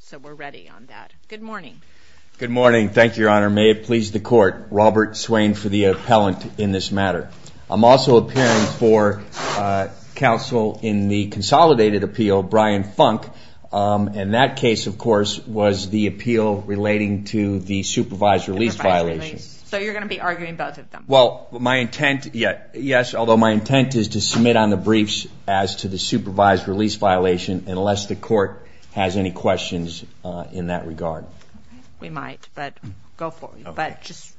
So we're ready on that. Good morning. Good morning. Thank you, Your Honor. May it please the court, Robert Swain for the appellant in this matter. I'm also appearing for counsel in the consolidated appeal, Brian Funk, and that case, of course, was the appeal relating to the supervised release violation. So you're going to be arguing both of them. Well, my intent, yes, although my intent is to submit on the briefs as to the supervised release violation unless the court has any questions in that regard. We might, but go for it, but just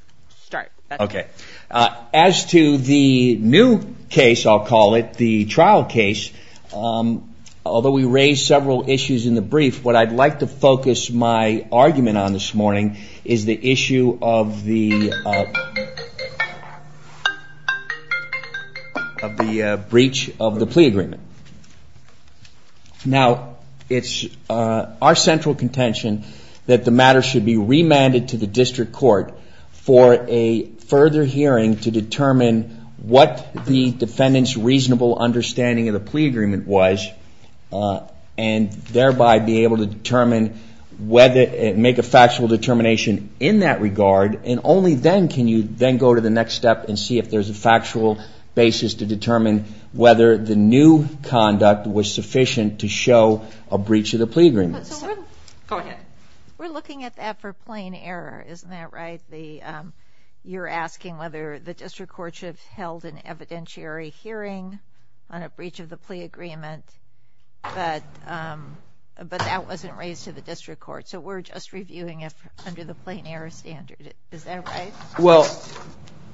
start. Okay. As to the new case, I'll call it, the trial case, although we raised several issues in the brief, what I'd like to focus my argument on this morning is the issue of the breach of the plea agreement. Now, it's our central contention that the matter should be remanded to the district court for a further hearing to determine what the defendant's reasonable understanding of the plea agreement was, and thereby be able to determine whether, make a factual determination in that regard, and only then can you then go to the next step and see if there's a factual basis to determine whether the new conduct was sufficient to show a breach of the plea agreement. So we're looking at that for plain error, isn't that right? You're asking whether the district court should have held an evidentiary hearing on a breach of the plea agreement, but that wasn't raised to the district court, so we're just reviewing it under the plain error standard, is that right? Well,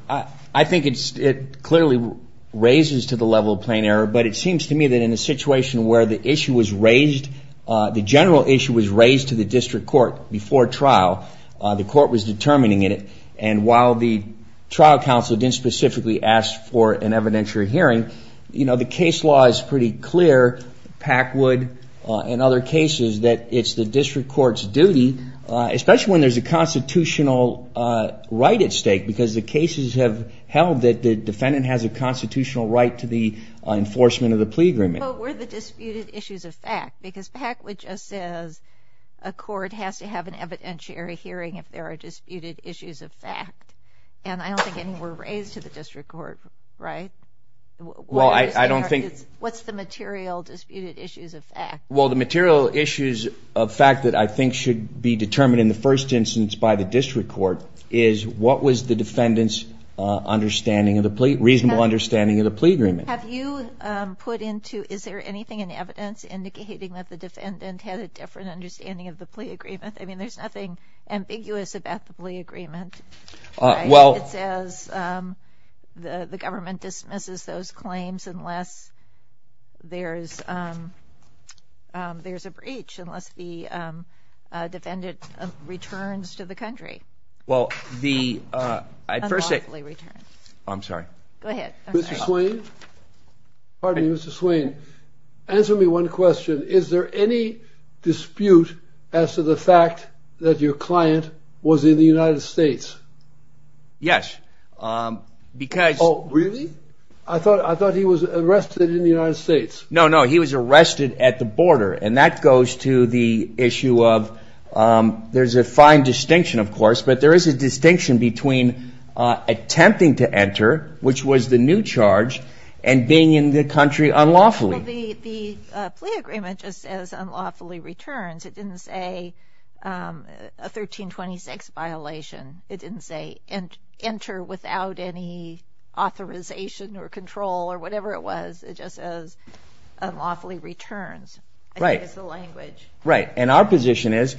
I think it clearly raises to the level of plain error, but it seems to me that in a situation where the issue was raised, the general issue was raised to the district court before trial, the court was determining it, and while the trial counsel didn't specifically ask for an evidentiary hearing, you know, the case law is pretty clear, Packwood and other cases, that it's the district court's duty, especially when there's a constitutional right at stake, because the cases have held that the defendant has a constitutional right to the enforcement of the plea agreement. But were the disputed issues a fact? Because Packwood just says a court has to have an evidentiary hearing if there are disputed issues of fact, and I don't think any were raised to the district court, right? Well, I don't think... What's the material disputed issues of fact? Well, the material issues of fact that I think should be determined in the first instance by the district court is, what was the defendant's understanding of the plea, reasonable understanding of the plea agreement? Have you put into, is there anything in evidence indicating that the defendant had a different understanding of the plea agreement? I mean, there's nothing ambiguous about the plea agreement, right? Well... It says the government dismisses those claims unless there's a breach, unless the defendant returns to the country. Well, the... I first say... Unlawfully returned. I'm sorry. Go ahead, I'm sorry. Mr. Swain? Pardon me, Mr. Swain. Answer me one question. Is there any dispute as to the fact that your client was in the United States? Yes, because... Oh, really? I thought he was arrested in the United States. No, no, he was arrested at the border, and that goes to the issue of, there's a fine distinction, of course, but there is a distinction between attempting to enter, which was the new charge, and being in the country unlawfully. Well, the plea agreement just says unlawfully returns. It didn't say a 1326 violation. It didn't say enter without any authorization or control or whatever it was. It just says unlawfully returns. I think it's the language. Right, and our position is,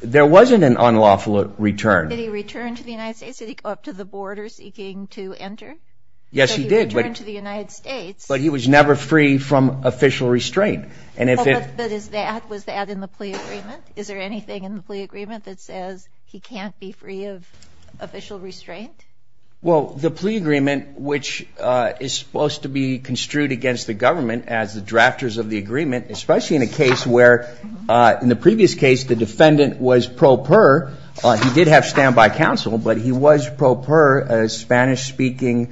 there wasn't an unlawful return. Did he return to the United States? Did he go up to the border seeking to enter? Yes, he did, but... But he returned to the United States. But he was never free from official restraint, and if it... But is that, was that in the plea agreement? Is there anything in the plea agreement that says he can't be free of official restraint? Well, the plea agreement, which is supposed to be construed against the government as the drafters of the agreement, especially in a case where, in the previous case, the defendant was pro per, he did have standby counsel, but he was pro per a Spanish-speaking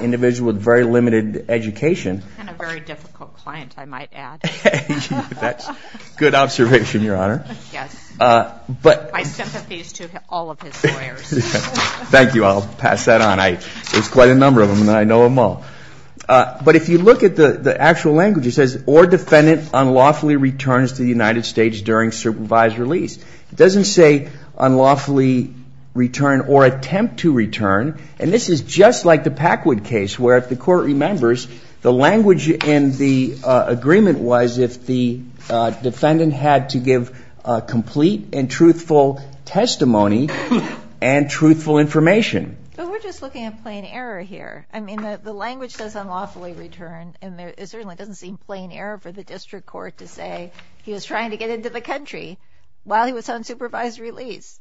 individual with very limited education. And a very difficult client, I might add. That's good observation, Your Honor. Yes, my sympathies to all of his lawyers. Thank you, I'll pass that on. There's quite a number of them, and I know them all. But if you look at the actual language, it says, or defendant unlawfully returns to the United States during supervised release. It doesn't say unlawfully return or attempt to return. And this is just like the Packwood case, where if the court remembers, the language in the agreement was if the defendant had to give complete and truthful testimony and truthful information. But we're just looking at plain error here. I mean, the language says unlawfully return, and it certainly doesn't seem plain error for the district court to say he was trying to get into the country while he was on supervised release.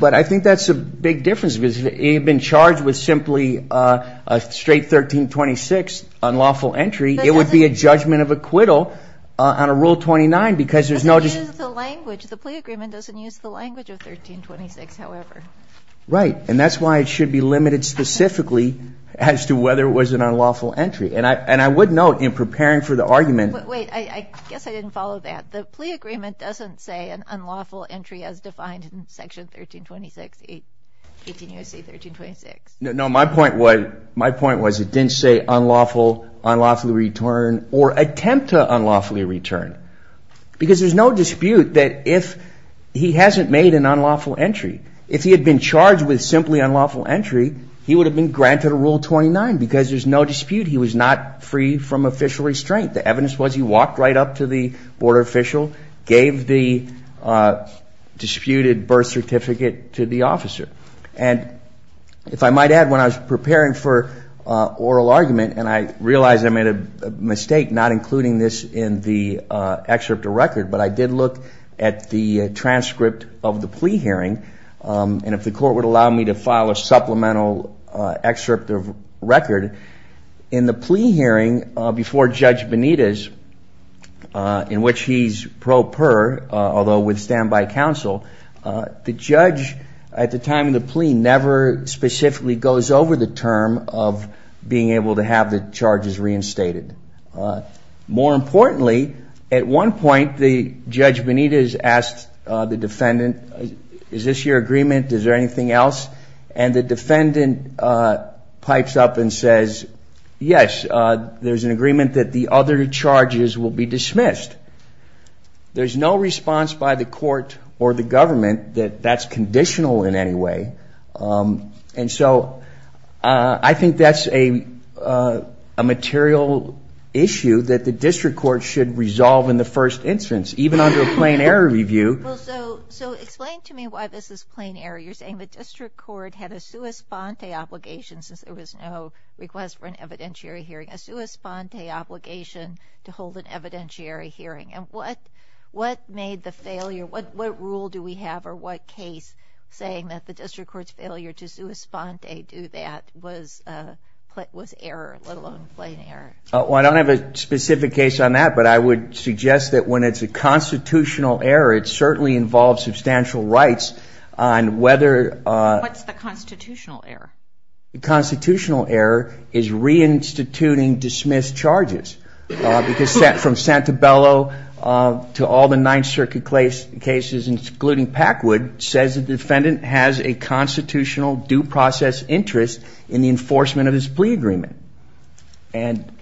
But I think that's a big difference, because if he had been charged with simply a straight 1326 unlawful entry, it would be a judgment of acquittal on a Rule 29, because there's no just- But they use the language. The plea agreement doesn't use the language of 1326, however. Right, and that's why it should be limited specifically as to whether it was an unlawful entry. And I would note, in preparing for the argument- Wait, I guess I didn't follow that. The plea agreement doesn't say an unlawful entry as defined in Section 1326, 18 U.S.C. 1326. No, no, my point was it didn't say unlawful, unlawfully return, or attempt to unlawfully return, because there's no dispute that if he hasn't made an unlawful entry, if he had been charged with simply unlawful entry, he would have been granted a Rule 29, because there's no dispute. He was not free from official restraint. The evidence was he walked right up to the border official, gave the disputed birth certificate to the officer. And if I might add, when I was preparing for oral argument, and I realize I made a mistake not including this in the excerpt of record, but I did look at the transcript of the plea hearing, and if the court would allow me to file a supplemental excerpt of record, in the plea hearing before Judge Benitez, in which he's pro per, although with standby counsel, the judge, at the time of the plea, never specifically goes over the term of being able to have the charges reinstated. More importantly, at one point, the Judge Benitez asked the defendant, is this your agreement? Is there anything else? And the defendant pipes up and says, yes, there's an agreement that the other charges will be dismissed. There's no response by the court or the government that that's conditional in any way. And so I think that's a material issue that the district court should resolve in the first instance, even under a plain error review. So explain to me why this is plain error. You're saying the district court had a sua sponte obligation, since there was no request for an evidentiary hearing, a sua sponte obligation to hold an evidentiary hearing. And what made the failure, what rule do we have or what case saying that the district court's failure to sua sponte do that was error, let alone plain error? Well, I don't have a specific case on that, but I would suggest that when it's a constitutional error, it certainly involves substantial rights on whether- What's the constitutional error? The constitutional error is reinstituting dismissed charges, because from Santabello to all the Ninth Circuit cases, including Packwood, says the defendant has a constitutional due process interest in the enforcement of his plea agreement. And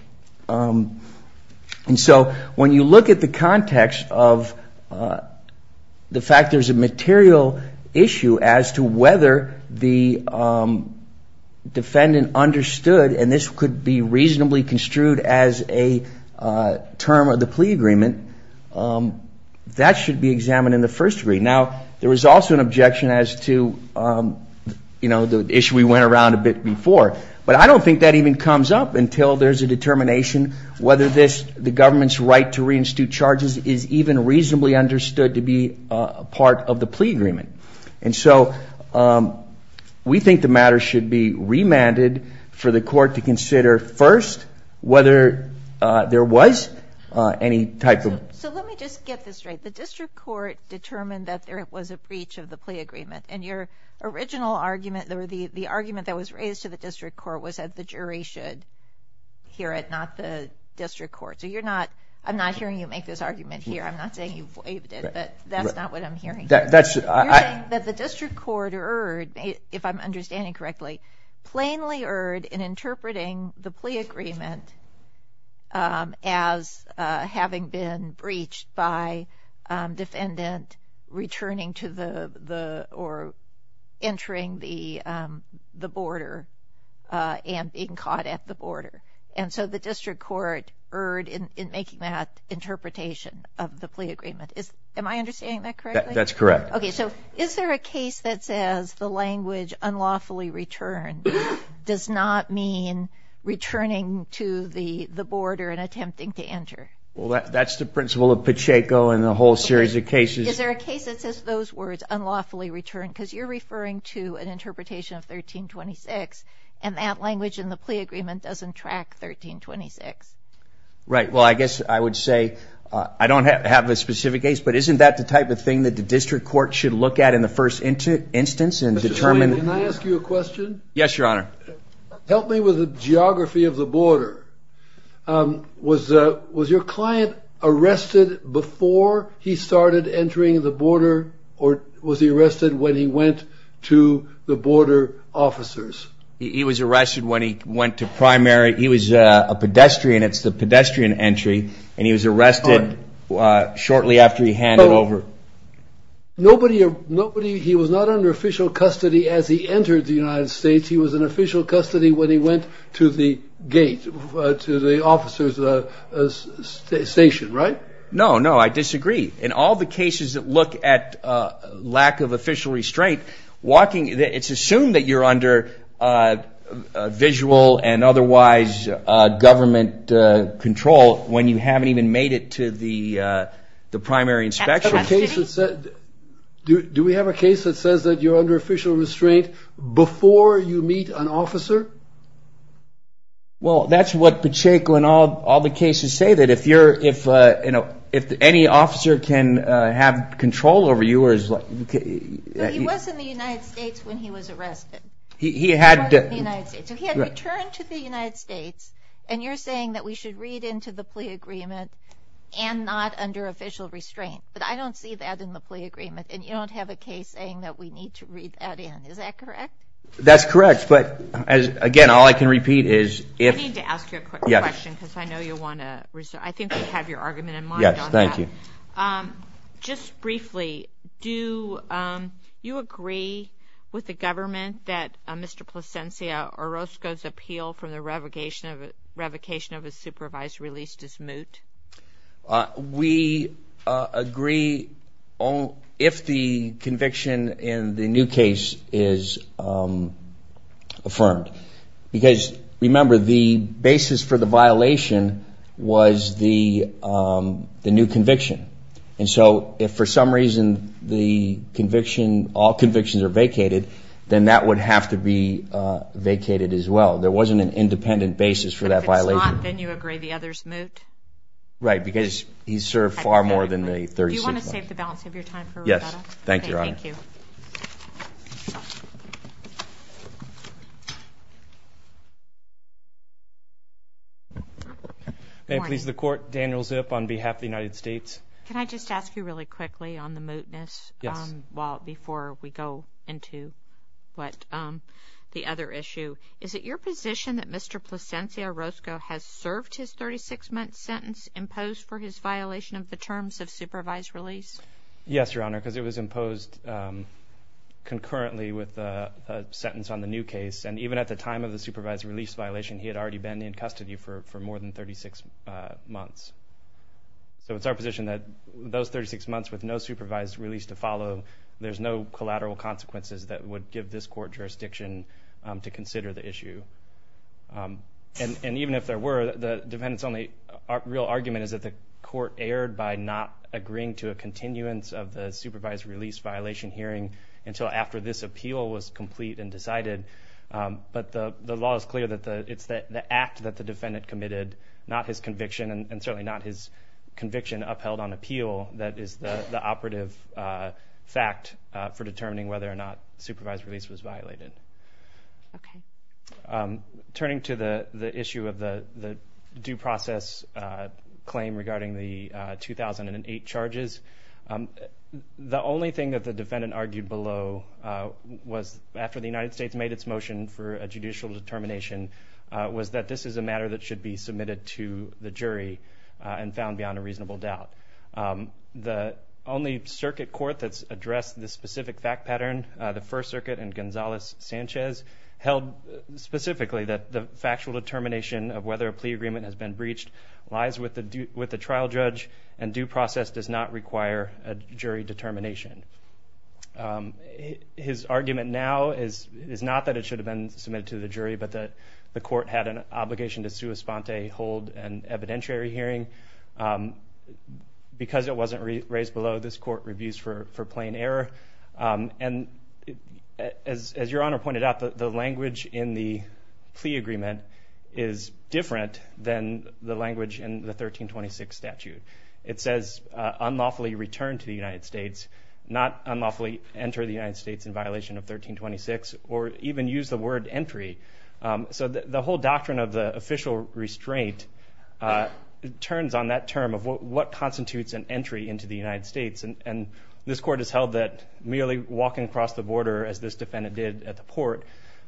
so when you look at the context of the fact there's a material issue as to whether the defendant understood, and this could be reasonably construed as a term of the plea agreement, that should be examined in the first degree. Now, there was also an objection as to, you know, the issue we went around a bit before, but I don't think that even comes up until there's a determination whether the government's right to reinstitute charges is even reasonably understood to be a part of the plea agreement. And so we think the matter should be remanded for the court to consider first whether there was any type of- So let me just get this straight. The district court determined that there was a breach of the plea agreement, and your original argument, or the argument that was raised to the district court was that the jury should hear it, not the district court. So you're not, I'm not hearing you make this argument here. I'm not saying you've waived it, but that's not what I'm hearing. You're saying that the district court erred, if I'm understanding correctly, plainly erred in interpreting the plea agreement as having been breached by defendant returning to the, or entering the border and being caught at the border. And so the district court erred in making that interpretation of the plea agreement. Am I understanding that correctly? That's correct. Okay, so is there a case that says the language unlawfully returned does not mean returning to the border and attempting to enter? Well, that's the principle of Pacheco and the whole series of cases. Is there a case that says those words, unlawfully returned, because you're referring to an interpretation of 1326, and that language in the plea agreement doesn't track 1326? Right, well, I guess I would say, I don't have a specific case, but isn't that the type of thing that the district court should look at in the first instance and determine? Mr. Swayne, can I ask you a question? Yes, your honor. Help me with the geography of the border. Was your client arrested before he started entering the border, or was he arrested when he went to the border officers? He was arrested when he went to primary, he was a pedestrian, it's the pedestrian entry, and he was arrested shortly after he handed over. Nobody, he was not under official custody as he entered the United States, he was in official custody when he went to the gate, to the officers' station, right? No, no, I disagree. In all the cases that look at lack of official restraint, walking, it's assumed that you're under visual and otherwise government control when you haven't even made it to the primary inspection. Do we have a case that says that you're under official restraint before you meet an officer? Well, that's what Pacheco and all the cases say, that if any officer can have control over you, or is like... He was in the United States when he was arrested. He had to... He was in the United States, so he had returned to the United States, and you're saying that we should read into the plea agreement and not under official restraint, but I don't see that in the plea agreement, and you don't have a case saying that we need to read that in, is that correct? That's correct, but again, all I can repeat is if... I need to ask you a quick question, because I know you want to... I think I have your argument in mind on that. Yes, thank you. Just briefly, do you agree with the government that Mr. Plascencia Orozco's appeal from the revocation of his supervisor released is moot? We agree if the conviction in the new case is affirmed, because remember, the basis for the violation was the new conviction, and so if for some reason the conviction, all convictions are vacated, then that would have to be vacated as well. There wasn't an independent basis for that violation. But if it's not, then you agree the other's moot? Right, because he served far more than the 36 months. Do you want to save the balance of your time for Roberta? Yes, thank you, Your Honor. Okay, thank you. May it please the Court, Daniel Zip on behalf of the United States. Can I just ask you really quickly on the mootness while before we go into what the other issue. Is it your position that Mr. Plascencia Orozco has served his 36-month sentence imposed for his violation of the terms of supervised release? Yes, Your Honor, because it was imposed concurrently with the sentence on the new case, and even at the time of the release, at the time of the supervised release violation, he had already been in custody for more than 36 months. So it's our position that those 36 months with no supervised release to follow, there's no collateral consequences that would give this court jurisdiction to consider the issue. And even if there were, the defendant's only real argument is that the court erred by not agreeing to a continuance of the supervised release violation hearing until after this appeal was complete and decided. But the law is clear that it's the act that the defendant committed, not his conviction, and certainly not his conviction upheld on appeal that is the operative fact for determining whether or not supervised release was violated. Turning to the issue of the due process claim regarding the 2008 charges, the only thing that the defendant argued below was after the United States made its motion for a judicial determination, was that this is a matter that should be submitted to the jury and found beyond a reasonable doubt. The only circuit court that's addressed this specific fact pattern, the First Circuit and Gonzales-Sanchez, held specifically that the factual determination of whether a plea agreement has been breached lies with the trial judge, and due process does not require a jury determination. His argument now is not that it should have been submitted to the jury, but that the court had an obligation to sua sponte hold an evidentiary hearing. Because it wasn't raised below, this court reviews for plain error. And as Your Honor pointed out, the language in the plea agreement is different than the language in the 1326 statute. It says unlawfully return to the United States, not unlawfully enter the United States in violation of 1326, or even use the word entry. So the whole doctrine of the official restraint turns on that term of what constitutes an entry into the United States, and this court has held that merely walking across the border as this defendant did at the port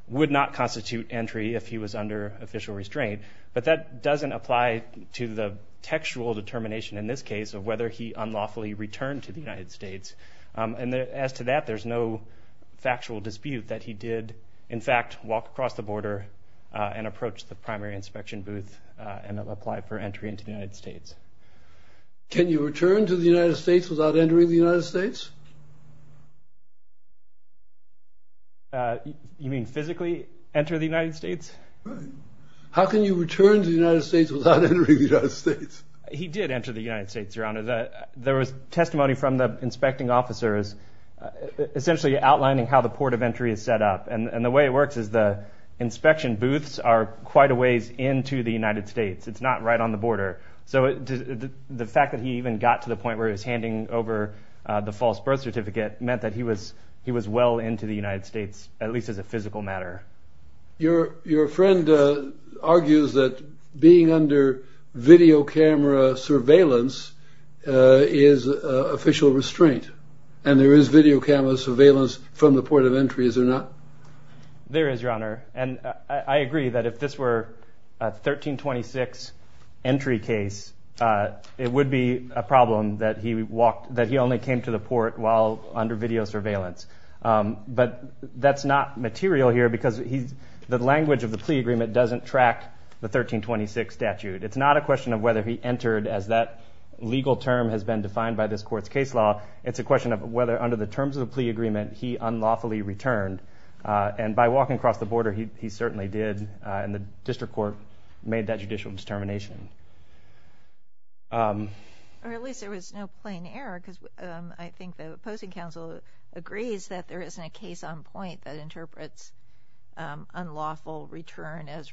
would not constitute entry if he was under official restraint. But that doesn't apply to the textual determination in this case of whether he unlawfully returned to the United States. And as to that, there's no factual dispute that he did, in fact, walk across the border and approach the primary inspection booth and apply for entry into the United States. Can you return to the United States without entering the United States? You mean physically enter the United States? Right. How can you return to the United States without entering the United States? He did enter the United States, Your Honor. There was testimony from the inspecting officers essentially outlining how the port of entry is set up. And the way it works is the inspection booths are quite a ways into the United States. It's not right on the border. So the fact that he even got to the point where he was handing over the false birth certificate meant that he was well into the United States, at least as a physical matter. Your friend argues that being under video camera surveillance is official restraint. And there is video camera surveillance from the port of entry, is there not? There is, Your Honor. And I agree that if this were a 1326 entry case, it would be a problem that he only came to the port while under video surveillance. But that's not material here because the language of the plea agreement doesn't track the 1326 statute. It's not a question of whether he entered as that legal term has been defined by this court's case law. It's a question of whether under the terms of the plea agreement, he unlawfully returned. And by walking across the border, he certainly did. And the district court made that judicial determination. Or at least there was no plain error because I think the opposing counsel agrees that there isn't a case on point that interprets unlawful return as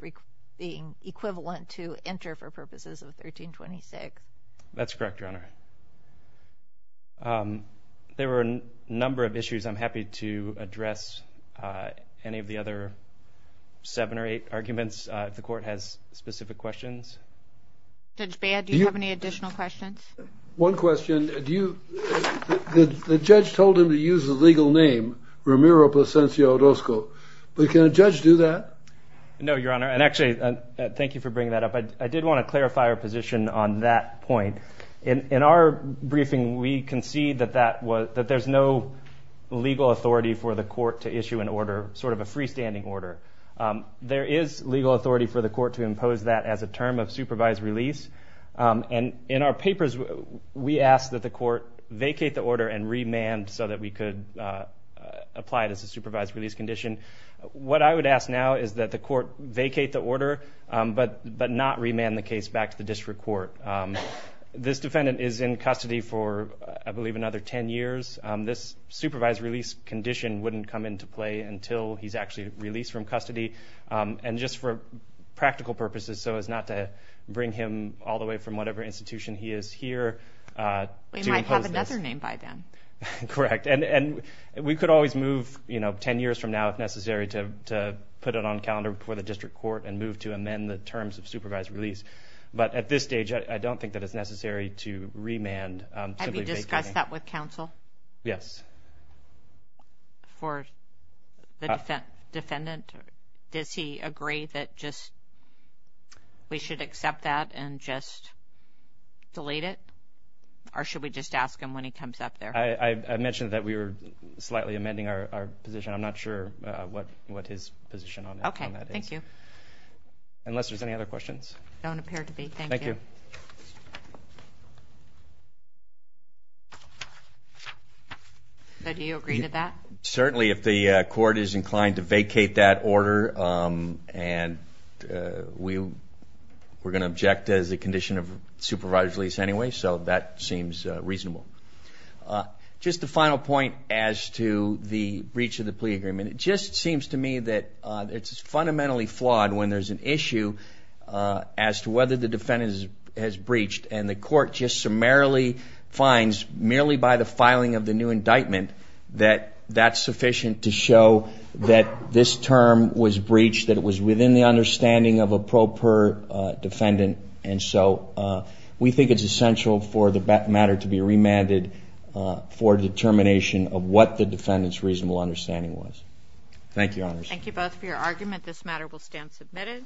being equivalent to enter for purposes of 1326. That's correct, Your Honor. There were a number of issues. I'm happy to address any of the other seven or eight arguments if the court has specific questions. Judge Baird, do you have any additional questions? One question, the judge told him to use the legal name Ramiro Plascencia Orozco, but can a judge do that? No, Your Honor. And actually, thank you for bringing that up. I did want to clarify our position on that point. In our briefing, we concede that there's no legal authority for the court to issue an order, sort of a freestanding order. There is legal authority for the court to impose that as a term of supervised release. And in our papers, we ask that the court vacate the order and remand so that we could apply it as a supervised release condition. What I would ask now is that the court vacate the order, but not remand the case back to the district court. This defendant is in custody for, I believe, another 10 years. This supervised release condition wouldn't come into play until he's actually released from custody. And just for practical purposes, so as not to bring him all the way from whatever institution he is here. We might have another name by then. Correct, and we could always move 10 years from now if necessary to put it on calendar for the district court and move to amend the terms of supervised release. But at this stage, I don't think that it's necessary to remand, simply vacating. Have you discussed that with counsel? Yes. For the defendant? Does he agree that just, we should accept that and just delete it? Or should we just ask him when he comes up there? I mentioned that we were slightly amending our position. I'm not sure what his position on that is. Okay, thank you. Unless there's any other questions. Don't appear to be, thank you. Thank you. So do you agree to that? Certainly, if the court is inclined to vacate that order, and we're gonna object as a condition of supervised release anyway, so that seems reasonable. Just a final point as to the breach of the plea agreement. It just seems to me that it's fundamentally flawed when there's an issue as to whether the defendant has breached and the court just summarily finds, merely by the filing of the new indictment, that that's sufficient to show that this term was breached, that it was within the understanding of a proper defendant. And so we think it's essential for the matter to be remanded for determination of what the defendant's reasonable understanding was. Thank you, Your Honors. Thank you both for your argument. This matter will stand submitted.